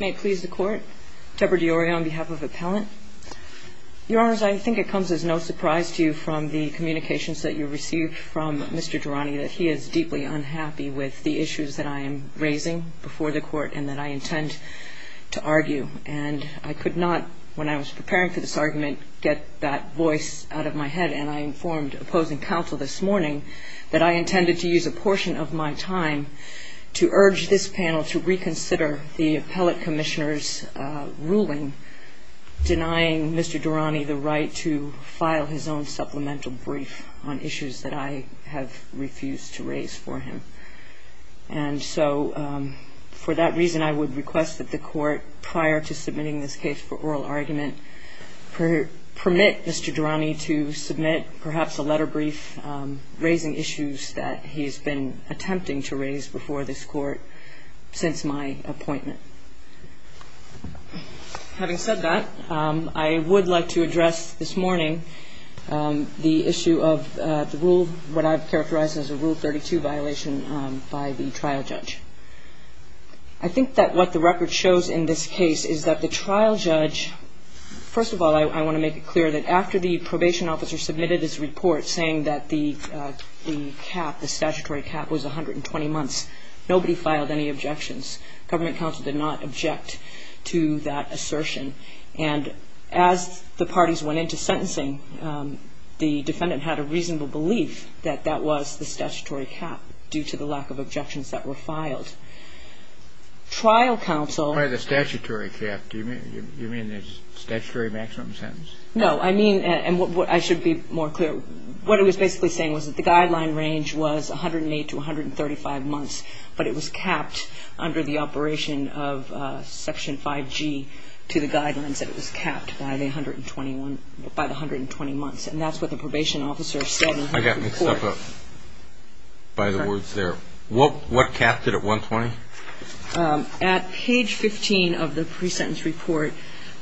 May it please the Court, Deborah DiOrio on behalf of Appellant. Your Honors, I think it comes as no surprise to you from the communications that you received from Mr. Durrani that he is deeply unhappy with the issues that I am raising before the Court and that I intend to argue. And I could not, when I was preparing for this argument, get that voice out of my head, and I informed opposing counsel this morning that I intended to use a portion of my time to urge this panel to reconsider the Appellate Commissioner's ruling denying Mr. Durrani the right to file his own supplemental brief on issues that I have refused to raise for him. And so for that reason, I would request that the Court, prior to submitting this case for oral argument, permit Mr. Durrani to submit perhaps a letter brief raising issues that he has been attempting to raise before this Court since my appointment. Having said that, I would like to address this morning the issue of the rule, what I've characterized as a Rule 32 violation by the trial judge. I think that what the record shows in this case is that the trial judge, first of all, I want to make it clear that after the probation officer submitted his report saying that the cap, the statutory cap, was 120 months, nobody filed any objections. Government counsel did not object to that assertion. And as the parties went into sentencing, the defendant had a reasonable belief that that was the statutory cap due to the lack of objections that were filed. Trial counsel... By the statutory cap, do you mean the statutory maximum sentence? No. I mean, and I should be more clear. What he was basically saying was that the guideline range was 108 to 135 months, but it was capped under the operation of Section 5G to the guidelines that it was capped by the 120 months. And that's what the probation officer said in his report. I got mixed up by the words there. What capped it at 120? At page 15 of the pre-sentence report,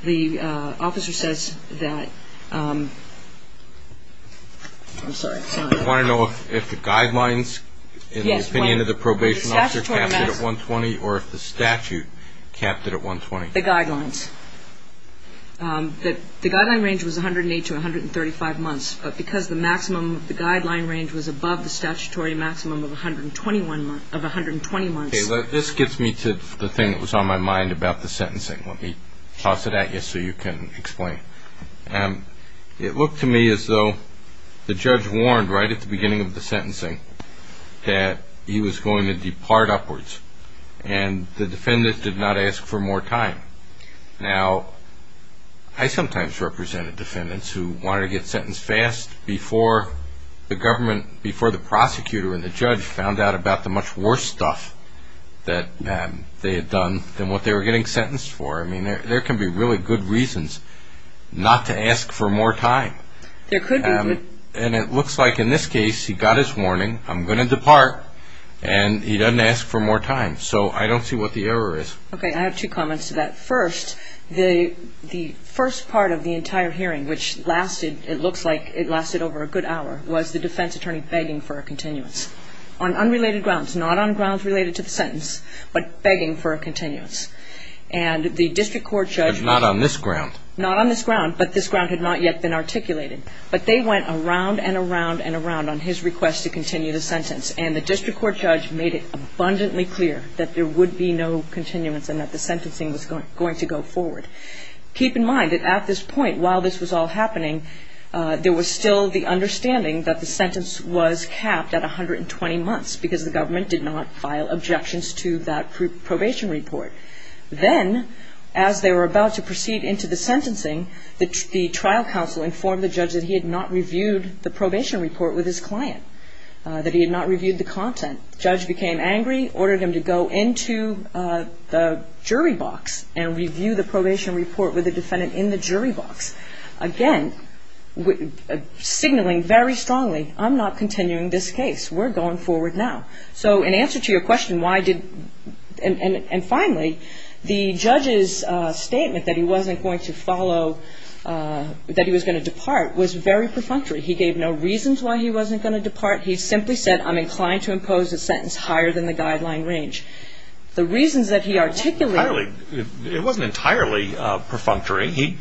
the officer says that... I'm sorry. I want to know if the guidelines in the opinion of the probation officer capped it at 120 or if the statute capped it at 120. The guidelines. The guideline range was 108 to 135 months, but because the maximum of the guideline range was above the statutory maximum of 120 months... This gets me to the thing that was on my mind about the sentencing. Let me toss it at you so you can explain. It looked to me as though the judge warned right at the beginning of the sentencing that he was going to depart upwards, and the defendant did not ask for more time. Now, I sometimes represented defendants who wanted to get sentenced fast before the prosecutor and the judge found out about the much worse stuff that they had done than what they were getting sentenced for. I mean, there can be really good reasons not to ask for more time. And it looks like in this case he got his warning, I'm going to depart, and he doesn't ask for more time. So I don't see what the error is. Okay. I have two comments to that. First, the first part of the entire hearing, which lasted, it looks like it lasted over a good hour, was the defense attorney begging for a continuance on unrelated grounds, not on grounds related to the sentence, but begging for a continuance. And the district court judge... But not on this ground. Not on this ground, but this ground had not yet been articulated. But they went around and around and around on his request to continue the sentence, and the district court judge made it abundantly clear that there would be no continuance and that the sentencing was going to go forward. Keep in mind that at this point, while this was all happening, there was still the understanding that the sentence was capped at 120 months because the government did not file objections to that probation report. Then, as they were about to proceed into the sentencing, the trial counsel informed the judge that he had not reviewed the probation report with his client, that he had not reviewed the content. The judge became angry, ordered him to go into the jury box and review the probation report with the defendant in the jury box. Again, signaling very strongly, I'm not continuing this case. We're going forward now. So, in answer to your question, why did... And finally, the judge's statement that he wasn't going to follow, that he was going to depart, was very perfunctory. He gave no reasons why he wasn't going to depart. He simply said, I'm inclined to impose a sentence higher than the guideline range. The reasons that he articulated... It wasn't entirely perfunctory. He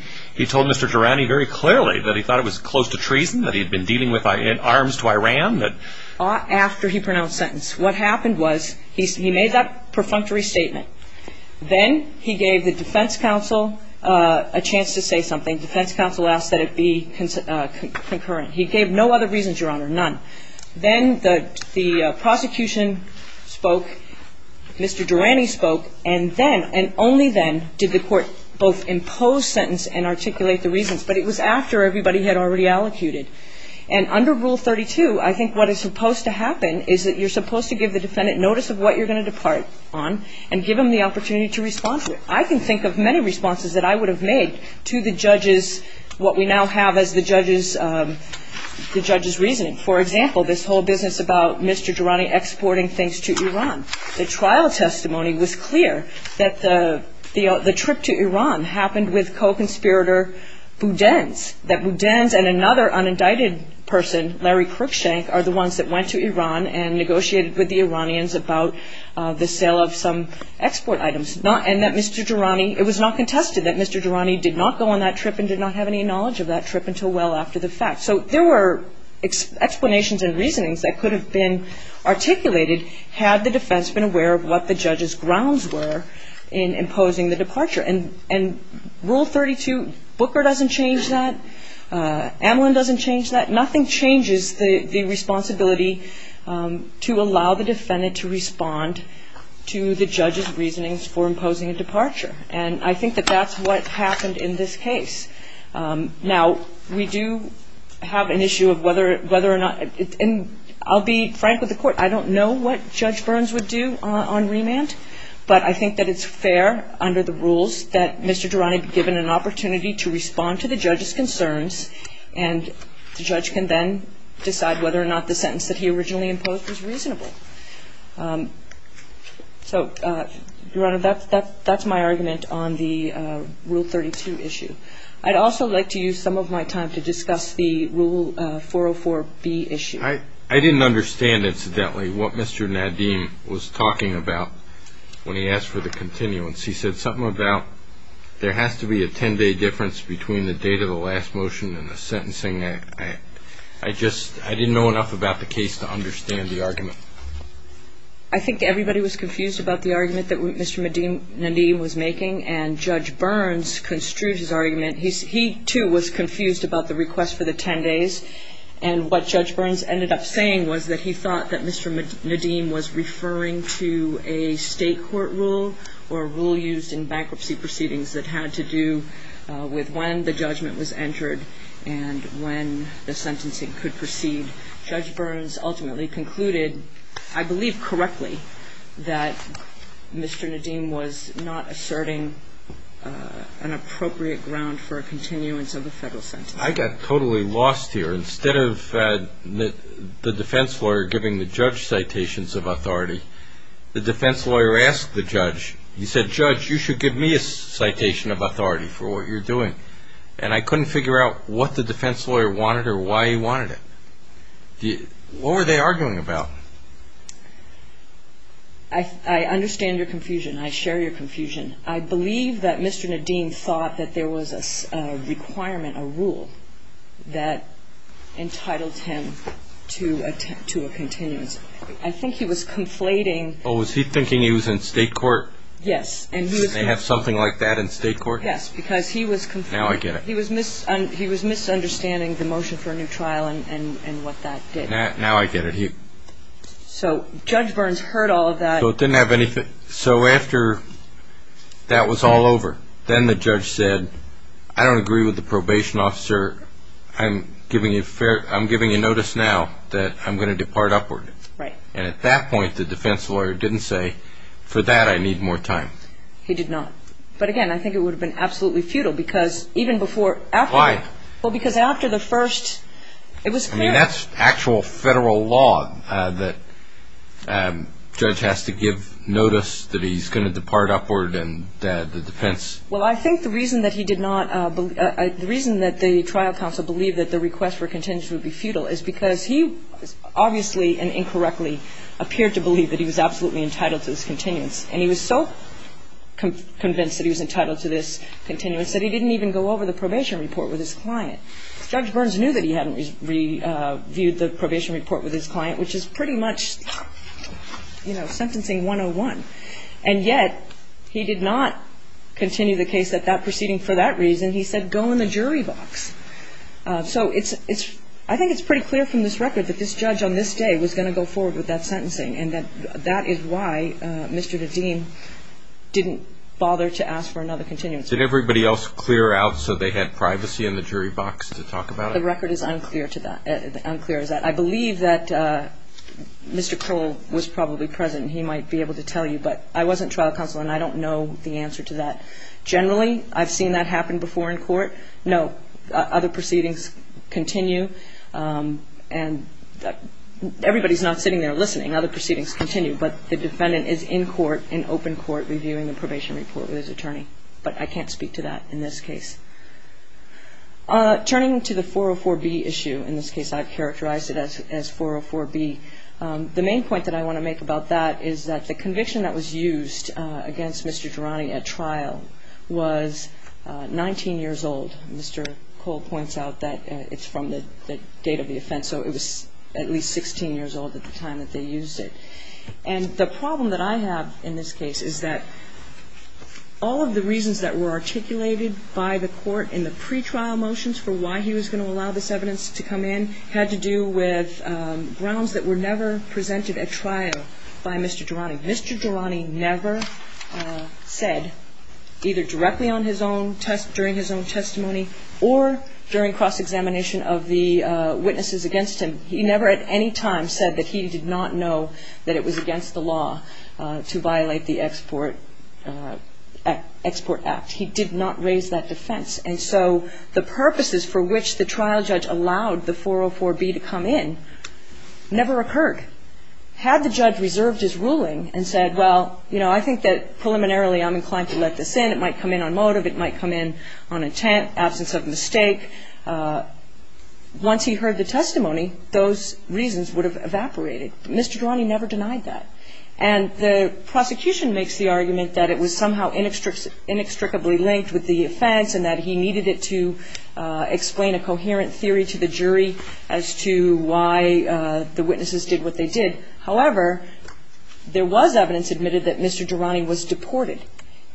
told Mr. Durrani very clearly that he thought it was close to treason, that he had been dealing with arms to Iran, that... After he pronounced sentence. What happened was he made that perfunctory statement. Then he gave the defense counsel a chance to say something. And the defense counsel asked that it be concurrent. He gave no other reasons, Your Honor, none. Then the prosecution spoke. Mr. Durrani spoke. And then, and only then, did the court both impose sentence and articulate the reasons. But it was after everybody had already allocated. And under Rule 32, I think what is supposed to happen is that you're supposed to give the defendant notice of what you're going to depart on and give them the opportunity to respond to it. I can think of many responses that I would have made to the judge's, what we now have as the judge's reasoning. For example, this whole business about Mr. Durrani exporting things to Iran. The trial testimony was clear that the trip to Iran happened with co-conspirator Budenz, that Budenz and another unindicted person, Larry Cruickshank, are the ones that went to Iran and negotiated with the Iranians about the sale of some export items. And that Mr. Durrani, it was not contested that Mr. Durrani did not go on that trip and did not have any knowledge of that trip until well after the fact. So there were explanations and reasonings that could have been articulated had the defense been aware of what the judge's grounds were in imposing the departure. And Rule 32, Booker doesn't change that. Amelin doesn't change that. Nothing changes the responsibility to allow the defendant to respond to the judge's reasonings for imposing a departure. And I think that that's what happened in this case. Now, we do have an issue of whether or not, and I'll be frank with the court, I don't know what Judge Burns would do on remand, but I think that it's fair under the rules that Mr. Durrani be given an opportunity to respond to the judge's concerns, and the judge can then decide whether or not the sentence that he originally imposed was reasonable. So, Your Honor, that's my argument on the Rule 32 issue. I'd also like to use some of my time to discuss the Rule 404B issue. I didn't understand, incidentally, what Mr. Nadim was talking about when he asked for the continuance. He said something about there has to be a 10-day difference between the date of the last motion and the sentencing act. I just didn't know enough about the case to understand the argument. I think everybody was confused about the argument that Mr. Nadim was making, and Judge Burns construed his argument. He, too, was confused about the request for the 10 days, and what Judge Burns ended up saying was that he thought that Mr. Nadim was referring to a state court rule or a rule used in bankruptcy proceedings that had to do with when the judgment was entered and when the sentencing could proceed. Judge Burns ultimately concluded, I believe correctly, that Mr. Nadim was not asserting an appropriate ground for a continuance of the federal sentencing. I got totally lost here. Instead of the defense lawyer giving the judge citations of authority, the defense lawyer asked the judge, he said, Judge, you should give me a citation of authority for what you're doing. And I couldn't figure out what the defense lawyer wanted or why he wanted it. What were they arguing about? I understand your confusion. I share your confusion. I believe that Mr. Nadim thought that there was a requirement, a rule, that entitled him to a continuance. I think he was conflating. Oh, was he thinking he was in state court? Yes. They have something like that in state court? Yes, because he was conflating. Now I get it. He was misunderstanding the motion for a new trial and what that did. Now I get it. So Judge Burns heard all of that. So it didn't have anything. So after that was all over, then the judge said, I don't agree with the probation officer. I'm giving you notice now that I'm going to depart upward. Right. And at that point, the defense lawyer didn't say, for that I need more time. He did not. But, again, I think it would have been absolutely futile because even before after that. Why? Well, because after the first, it was clear. I mean, that's actual federal law that a judge has to give notice that he's going to depart upward and the defense. Well, I think the reason that he did not, the reason that the trial counsel believed that the request for contingency would be futile is because he obviously and incorrectly appeared to believe that he was absolutely entitled to this continuance. And he was so convinced that he was entitled to this continuance that he didn't even go over the probation report with his client. Judge Burns knew that he hadn't reviewed the probation report with his client, which is pretty much, you know, sentencing 101. And yet he did not continue the case at that proceeding for that reason. He said, go in the jury box. So it's – I think it's pretty clear from this record that this judge on this day was going to go forward with that sentencing and that that is why Mr. Nadim didn't bother to ask for another continuance. Did everybody else clear out so they had privacy in the jury box to talk about it? The record is unclear to that – unclear as that. I believe that Mr. Cole was probably present and he might be able to tell you, but I wasn't trial counsel and I don't know the answer to that. Generally, I've seen that happen before in court. No. Other proceedings continue. And everybody's not sitting there listening. Other proceedings continue. But the defendant is in court, in open court, reviewing the probation report with his attorney. But I can't speak to that in this case. Turning to the 404B issue, in this case I've characterized it as 404B, the main point that I want to make about that is that the conviction that was used against Mr. Durante at trial was 19 years old. Mr. Cole points out that it's from the date of the offense, so it was at least 16 years old at the time that they used it. And the problem that I have in this case is that all of the reasons that were articulated by the court in the pretrial motions for why he was going to allow this evidence to come in had to do with grounds that were never presented at trial by Mr. Durante. Mr. Durante never said, either directly on his own test, during his own testimony, or during cross-examination of the witnesses against him, he never at any time said that he did not know that it was against the law to violate the Export Act. He did not raise that defense. And so the purposes for which the trial judge allowed the 404B to come in never occurred. Had the judge reserved his ruling and said, well, you know, I think that preliminarily I'm inclined to let this in, it might come in on motive, it might come in on intent, absence of mistake, once he heard the testimony, those reasons would have evaporated. Mr. Durante never denied that. And the prosecution makes the argument that it was somehow inextricably linked with the offense and that he needed it to explain a coherent theory to the jury as to why the witnesses did what they did. However, there was evidence admitted that Mr. Durante was deported.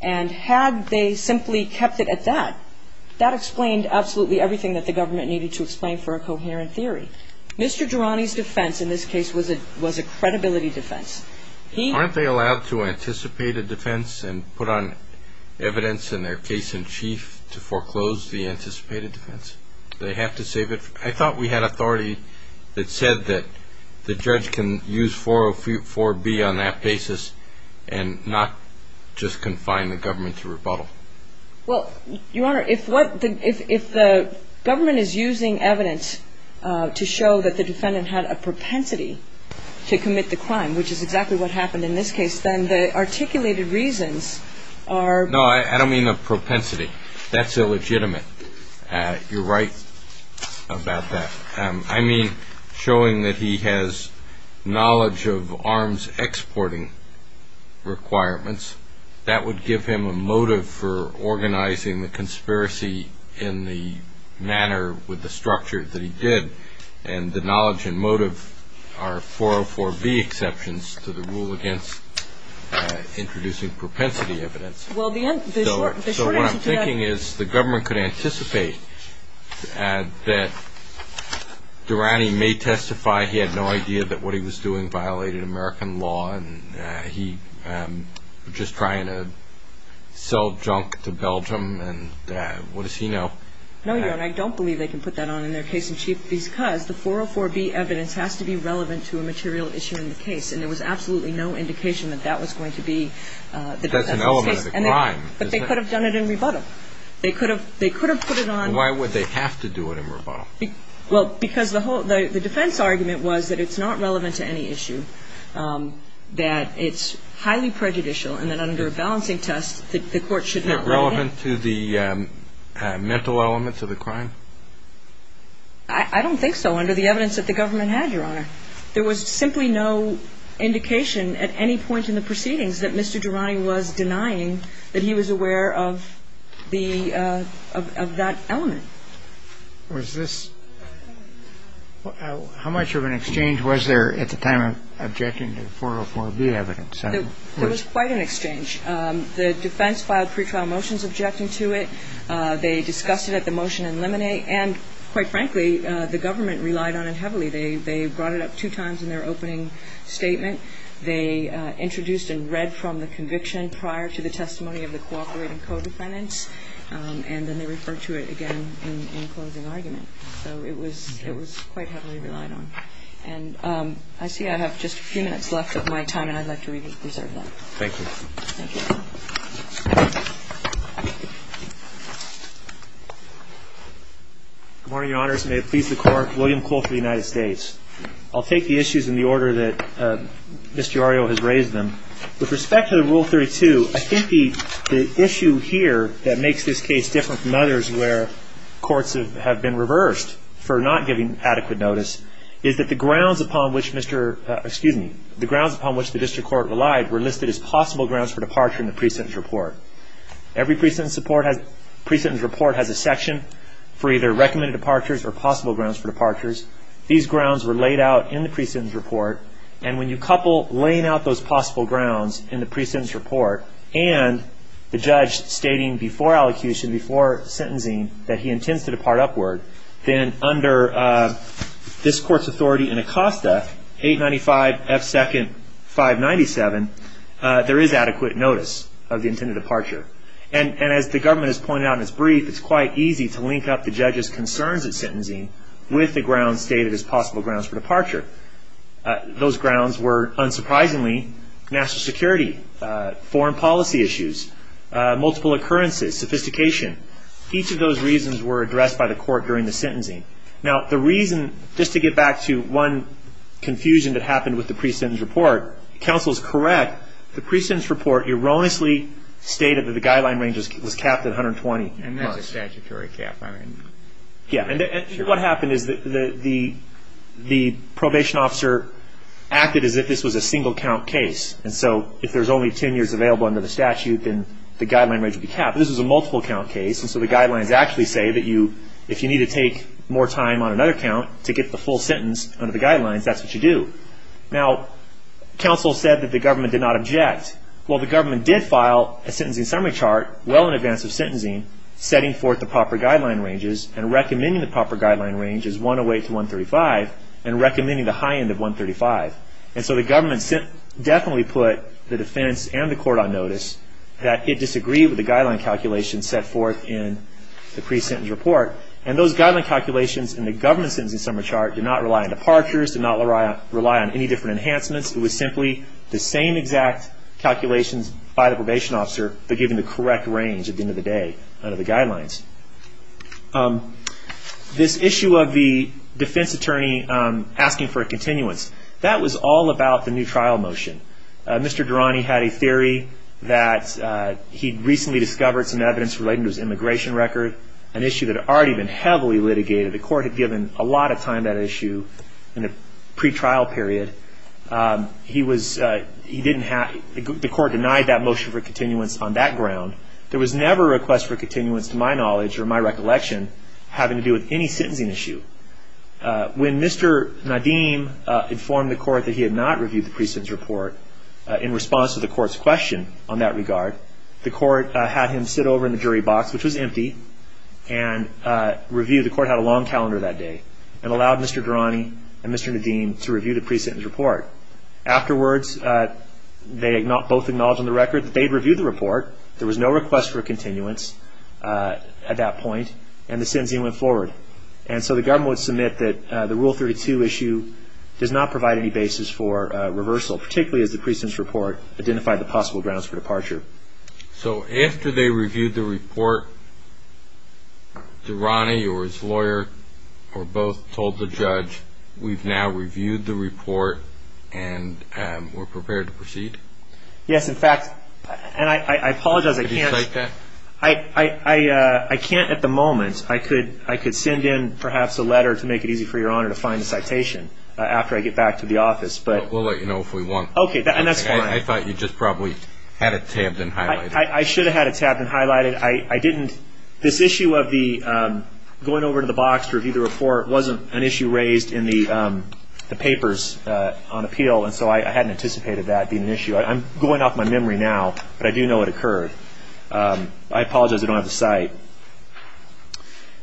And had they simply kept it at that, that explained absolutely everything that the government needed to explain for a coherent theory. Mr. Durante's defense in this case was a credibility defense. Aren't they allowed to anticipate a defense and put on evidence in their case in chief to foreclose the anticipated defense? Do they have to save it? I thought we had authority that said that the judge can use 404B on that basis Well, Your Honor, if the government is using evidence to show that the defendant had a propensity to commit the crime, which is exactly what happened in this case, then the articulated reasons are No, I don't mean a propensity. That's illegitimate. You're right about that. I mean, showing that he has knowledge of arms exporting requirements, that would give him a motive for organizing the conspiracy in the manner with the structure that he did. And the knowledge and motive are 404B exceptions to the rule against introducing propensity evidence. Well, the short answer to that So what I'm thinking is the government could anticipate that Durante may testify he had no idea that what he was doing violated American law and he was just trying to sell junk to Belgium, and what does he know? No, Your Honor, I don't believe they can put that on in their case in chief because the 404B evidence has to be relevant to a material issue in the case and there was absolutely no indication that that was going to be That's an element of the crime But they could have done it in rebuttal. They could have put it on Why would they have to do it in rebuttal? Well, because the defense argument was that it's not relevant to any issue that it's highly prejudicial and that under a balancing test the court should not write it Isn't it relevant to the mental elements of the crime? I don't think so, under the evidence that the government had, Your Honor There was simply no indication at any point in the proceedings that Mr. Durante was denying that he was aware of that element How much of an exchange was there at the time of objecting to the 404B evidence? There was quite an exchange The defense filed pretrial motions objecting to it They discussed it at the motion in limine And, quite frankly, the government relied on it heavily They brought it up two times in their opening statement They introduced and read from the conviction prior to the testimony of the cooperating co-defendants And then they referred to it again in closing argument So it was quite heavily relied on And I see I have just a few minutes left of my time and I'd like to reserve that Thank you Good morning, Your Honors May it please the Court William Cole for the United States I'll take the issues in the order that Mr. Arrio has raised them With respect to the Rule 32 I think the issue here that makes this case different from others where courts have been reversed for not giving adequate notice is that the grounds upon which the district court relied were listed as possible grounds for departure in the pre-sentence report Every pre-sentence report has a section for either recommended departures or possible grounds for departures These grounds were laid out in the pre-sentence report And when you couple laying out those possible grounds in the pre-sentence report and the judge stating before allocution, before sentencing that he intends to depart upward then under this Court's authority in Acosta 895 F. 2nd. 597 there is adequate notice of the intended departure And as the government has pointed out in its brief it's quite easy to link up the judge's concerns at sentencing with the grounds stated as possible grounds for departure Those grounds were, unsurprisingly national security, foreign policy issues multiple occurrences, sophistication Each of those reasons were addressed by the court during the sentencing Now the reason, just to get back to one confusion that happened with the pre-sentence report Counsel is correct, the pre-sentence report erroneously stated that the guideline range was capped at 120 And that's a statutory cap Yeah, and what happened is that the probation officer acted as if this was a single count case And so, if there's only 10 years available under the statute then the guideline range would be capped This was a multiple count case, and so the guidelines actually say that you if you need to take more time on another count to get the full sentence under the guidelines, that's what you do Now, counsel said that the government did not object Well, the government did file a sentencing summary chart well in advance of sentencing, setting forth the proper guideline ranges and recommending the proper guideline ranges 108 to 135 and recommending the high end of 135 And so the government definitely put the defense and the court on notice that it disagreed with the guideline calculations set forth in the pre-sentence report And those guideline calculations in the government sentencing summary chart did not rely on departures, did not rely on any different enhancements It was simply the same exact calculations by the probation officer but given the correct range at the end of the day under the guidelines This issue of the defense attorney asking for a continuance that was all about the new trial motion Mr. Durrani had a theory that he'd recently discovered some evidence relating to his immigration record an issue that had already been heavily litigated The court had given a lot of time to that issue in the pre-trial period The court denied that motion for continuance on that ground There was never a request for continuance to my knowledge or my recollection having to do with any sentencing issue When Mr. Nadeem informed the court that he had not reviewed the pre-sentence report in response to the court's question on that regard the court had him sit over in the jury box, which was empty and review, the court had a long calendar that day and allowed Mr. Durrani and Mr. Nadeem to review the pre-sentence report Afterwards, they both acknowledged on the record that they'd reviewed the report There was no request for continuance at that point and the sentencing went forward So the government would submit that the Rule 32 issue does not provide any basis for reversal particularly as the pre-sentence report identified the possible grounds for departure So after they reviewed the report, Durrani or his lawyer both told the judge, we've now reviewed the report and we're prepared to proceed? Yes, in fact, and I apologize, I can't Could you cite that? I can't at the moment I could send in perhaps a letter to make it easy for your honor to find the citation after I get back to the office We'll let you know if we want I thought you just probably had it tabbed and highlighted I should have had it tabbed and highlighted This issue of going over to the box to review the report wasn't an issue raised in the papers on appeal and so I hadn't anticipated that being an issue I'm going off my memory now, but I do know it occurred I apologize, I don't have the cite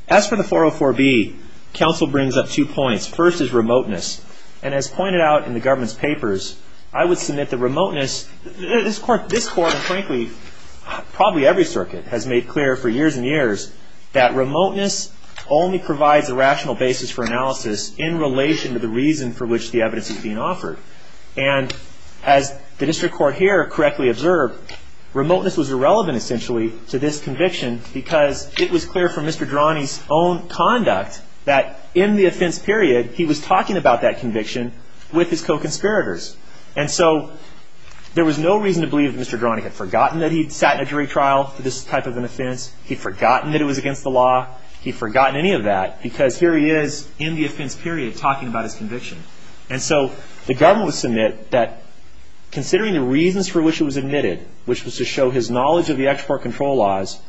As for the 404B, counsel brings up two points First is remoteness and as pointed out in the government's papers I would submit that remoteness This court, and frankly, probably every circuit has made clear for years and years that remoteness only provides a rational basis for analysis in relation to the reason for which the evidence is being offered and as the district court here correctly observed remoteness was irrelevant essentially to this conviction because it was clear from Mr. Durrani's own conduct that in the offense period he was talking about that conviction with his co-conspirators and so there was no reason to believe that Mr. Durrani had forgotten that he'd sat in a jury trial for this type of an offense he'd forgotten that it was against the law he'd forgotten any of that because here he is in the offense period talking about his conviction and so the government would submit that considering the reasons for which it was admitted which was to show his knowledge of the export control laws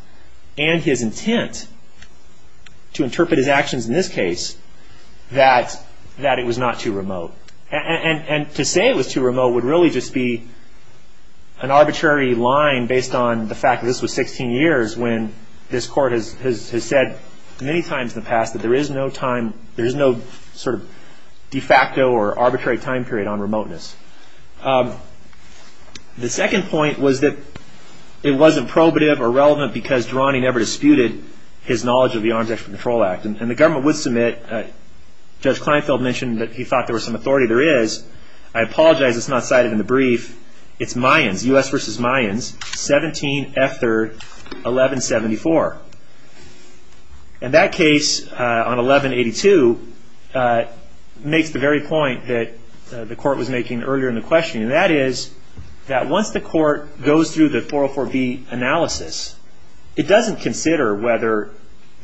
and his intent to interpret his actions in this case that it was not too remote and to say it was too remote would really just be an arbitrary line based on the fact that this was 16 years when this court has said many times in the past that there is no time there is no sort of de facto or arbitrary time period on remoteness The second point was that it wasn't probative or relevant because Durrani never disputed his knowledge of the Arms Export Control Act and the government would submit Judge Kleinfeld mentioned that he thought there was some authority there is I apologize it's not cited in the brief it's Mayans U.S. v. Mayans 17 F. 3rd 1174 and that case on 1182 makes the very point that the court was making earlier in the questioning and that is that once the court goes through the 404b analysis it doesn't consider whether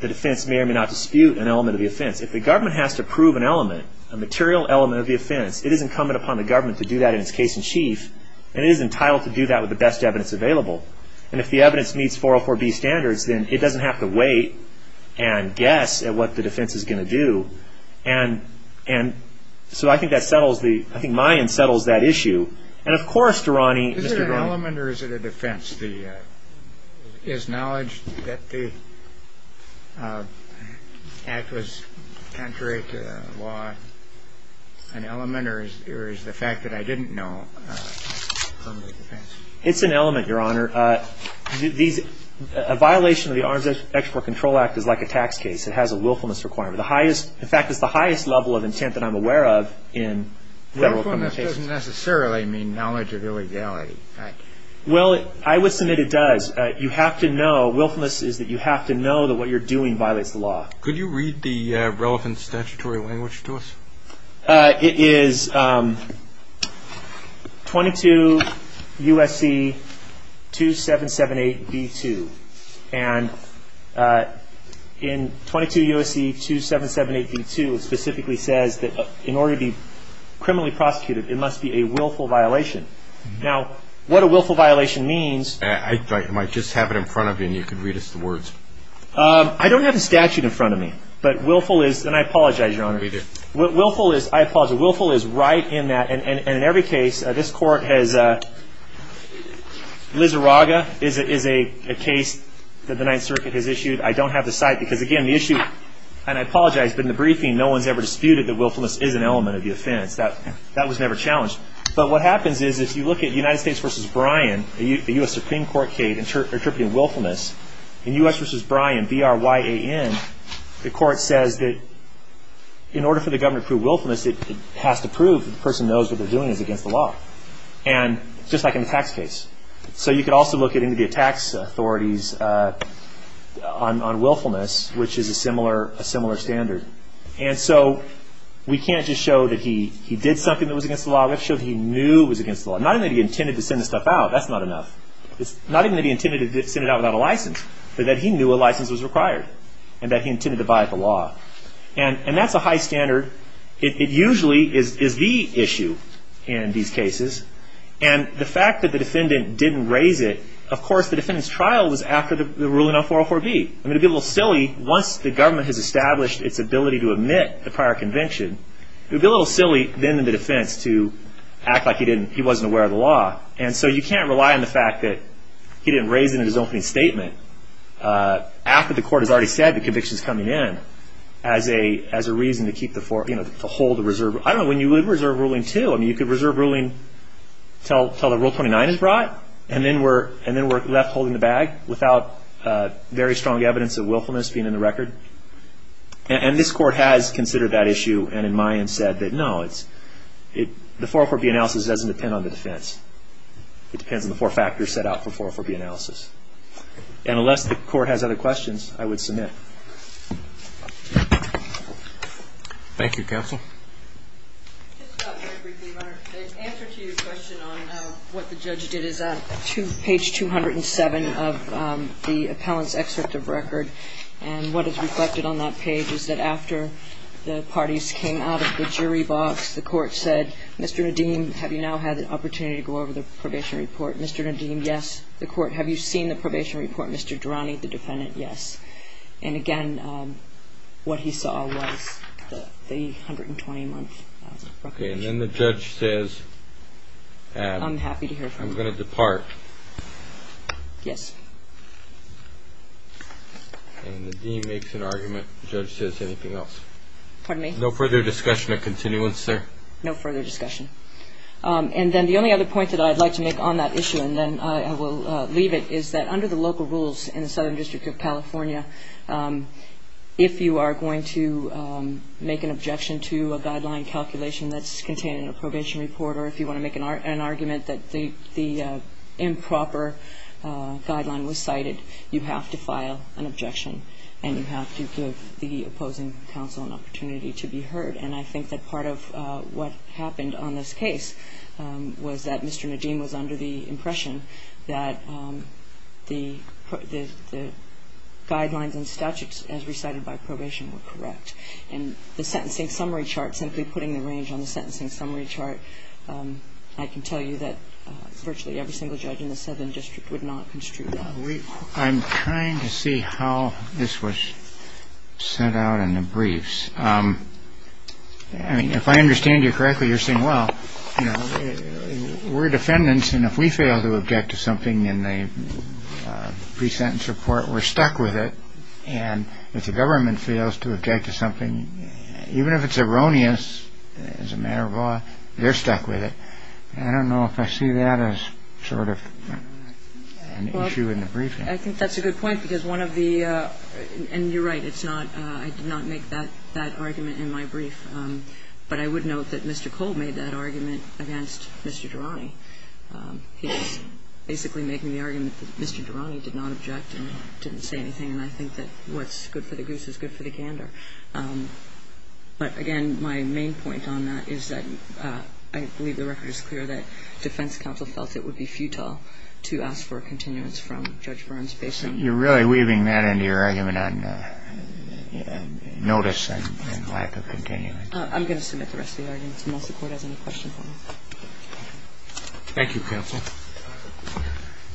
the defense may or may not dispute an element of the offense if the government has to prove an element a material element of the offense it is incumbent upon the government to do that in its case in chief and it is entitled to do that with the best evidence available and if the evidence meets 404b standards then it doesn't have to wait and guess at what the defense is going to do and so I think that settles the I think Mayans settles that issue and of course Dorani is it an element or is it a defense the is knowledge that the act was contrary to the law an element or is the fact that I didn't know from the defense it's an element your honor these a violation of the Arms Export Control Act is like a tax case it has a willfulness requirement the highest in fact it's the highest level of intent that I'm aware of in willfulness doesn't necessarily mean knowledge of illegality well I would submit it does you have to know willfulness is that you have to know that what you're doing violates the law could you read the relevant statutory language to us it is 22 USC 2778 B2 and in 22 USC 2778 B2 it specifically says that in order to be criminally prosecuted it must be a willful violation now what a willful violation means I might just have it in front of me and you can read us the words I don't have the statute in front of me but willful is and I apologize your honor willful is I apologize willful is right in that and in every case this court has Lizarraga is a case that the Ninth Circuit has issued I don't have the site because again the issue and I apologize but in the briefing no one's ever disputed that willfulness is an element of the offense that was never challenged but what happens is if you look at United States v. Bryan the U.S. Supreme Court case interpreting willfulness in U.S. v. Bryan B-R-Y-A-N the court says that in order for the government to prove willfulness it has to prove that the person knows what they're doing is against the law and just like in the tax case so you could also look at any of the tax authorities on willfulness which is a similar standard and so we can't just show that he did something that was against the law we have to show that he knew it was against the law not even that he intended to send the stuff out that's not enough not even that he intended to send it out without a license but that he knew a license was required and that he intended to violate the law and that's a high standard it usually is the issue in these cases and the fact that the defendant didn't raise it of course the defendant's trial was after the ruling on 404-B it would be a little silly once the government has established its ability to admit the prior conviction it would be a little silly then in the defense to act like he didn't he wasn't aware of the law and so you can't rely on the fact that he didn't raise it in his opening statement after the court has already said the conviction's coming in as a reason to keep the to hold the reserve I don't know when you would reserve ruling too I mean you could reserve ruling until the Rule 29 is brought and then we're and then we're left holding the bag without very strong evidence of willfulness being in the record and this court has considered that issue and in my end said that no the 404-B analysis doesn't depend on the defense it depends on the four factors set out for 404-B analysis the court has other questions I would submit Thank you Counsel Answer to your question on what the judge did is on page 207 of the appellant's excerpt of record and what is reflected on that page is that after the parties came out of the jury box the court said Mr. Nadim have you now had the opportunity to go over the probation report Mr. Nadim yes the court have you seen the probation report Mr. Durrani the defendant yes and again what he saw was the 120 month probation and then the judge says I'm happy to hear from you no further discussion of continuance sir no further discussion and then the only other point that I'd like to make on that issue and then I will leave it is that under the local rules in the Southern District of California if you are going to make an objection to a guideline calculation that's contained in a probation report or if you want to make an argument that the improper guideline was cited you have to file an objection and you have to give the opposing counsel an opportunity to be heard and I think that part of what happened on this case was that Mr. Nadim was under the impression that the guidelines and statutes as recited by probation were correct and the single judge in the Southern District would not construe that. I'm trying to see how this was sent out in the briefs. I mean if I understand you correctly you're saying well we're defendants and if we fail to object to something in the pre-sentence report we're stuck with it and if the government fails to object to something even if it's erroneous as a matter of law they're stuck with it. I don't know if I see that as sort of an issue in the brief. I think that's a good point because one of the and you're right it's not I did not make that argument in my brief but I would note that Mr. Cole made against Mr. Durrani. He was basically making the argument that Mr. Durrani did not object and didn't say anything and I think that what's good for the goose is good for the gander. But again my main point on that is that I believe the record is clear that defense counsel felt that it would be futile to ask for a continuance from Judge Burns. You're really weaving that into your argument on notice and lack of continuance. I'm going to submit the rest of the argument unless the court has any questions for me. Thank you counsel.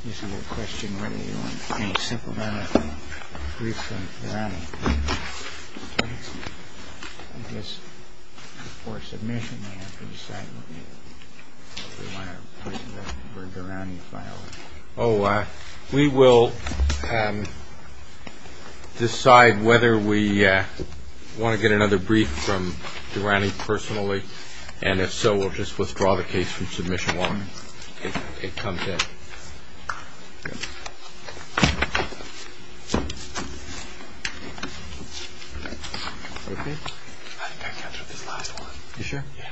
Is there a question whether you want to get another brief from Durrani personally? Oh, we will decide whether we want to get another brief from we'll just withdraw the case from submission while it comes in. Any other questions? No. Okay. Thank you. I think I got through this last one. You sure? Yeah.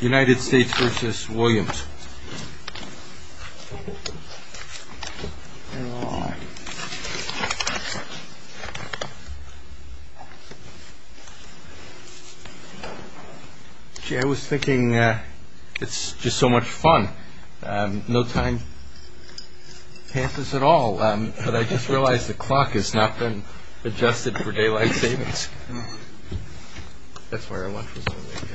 United States so much fun. It's just so much fun. It's so much fun. It's so much fun. It's so much fun. Very much fun. No time attempts at all. But I just realize the clock has not been adjusted for day by day. wait to see what happens next.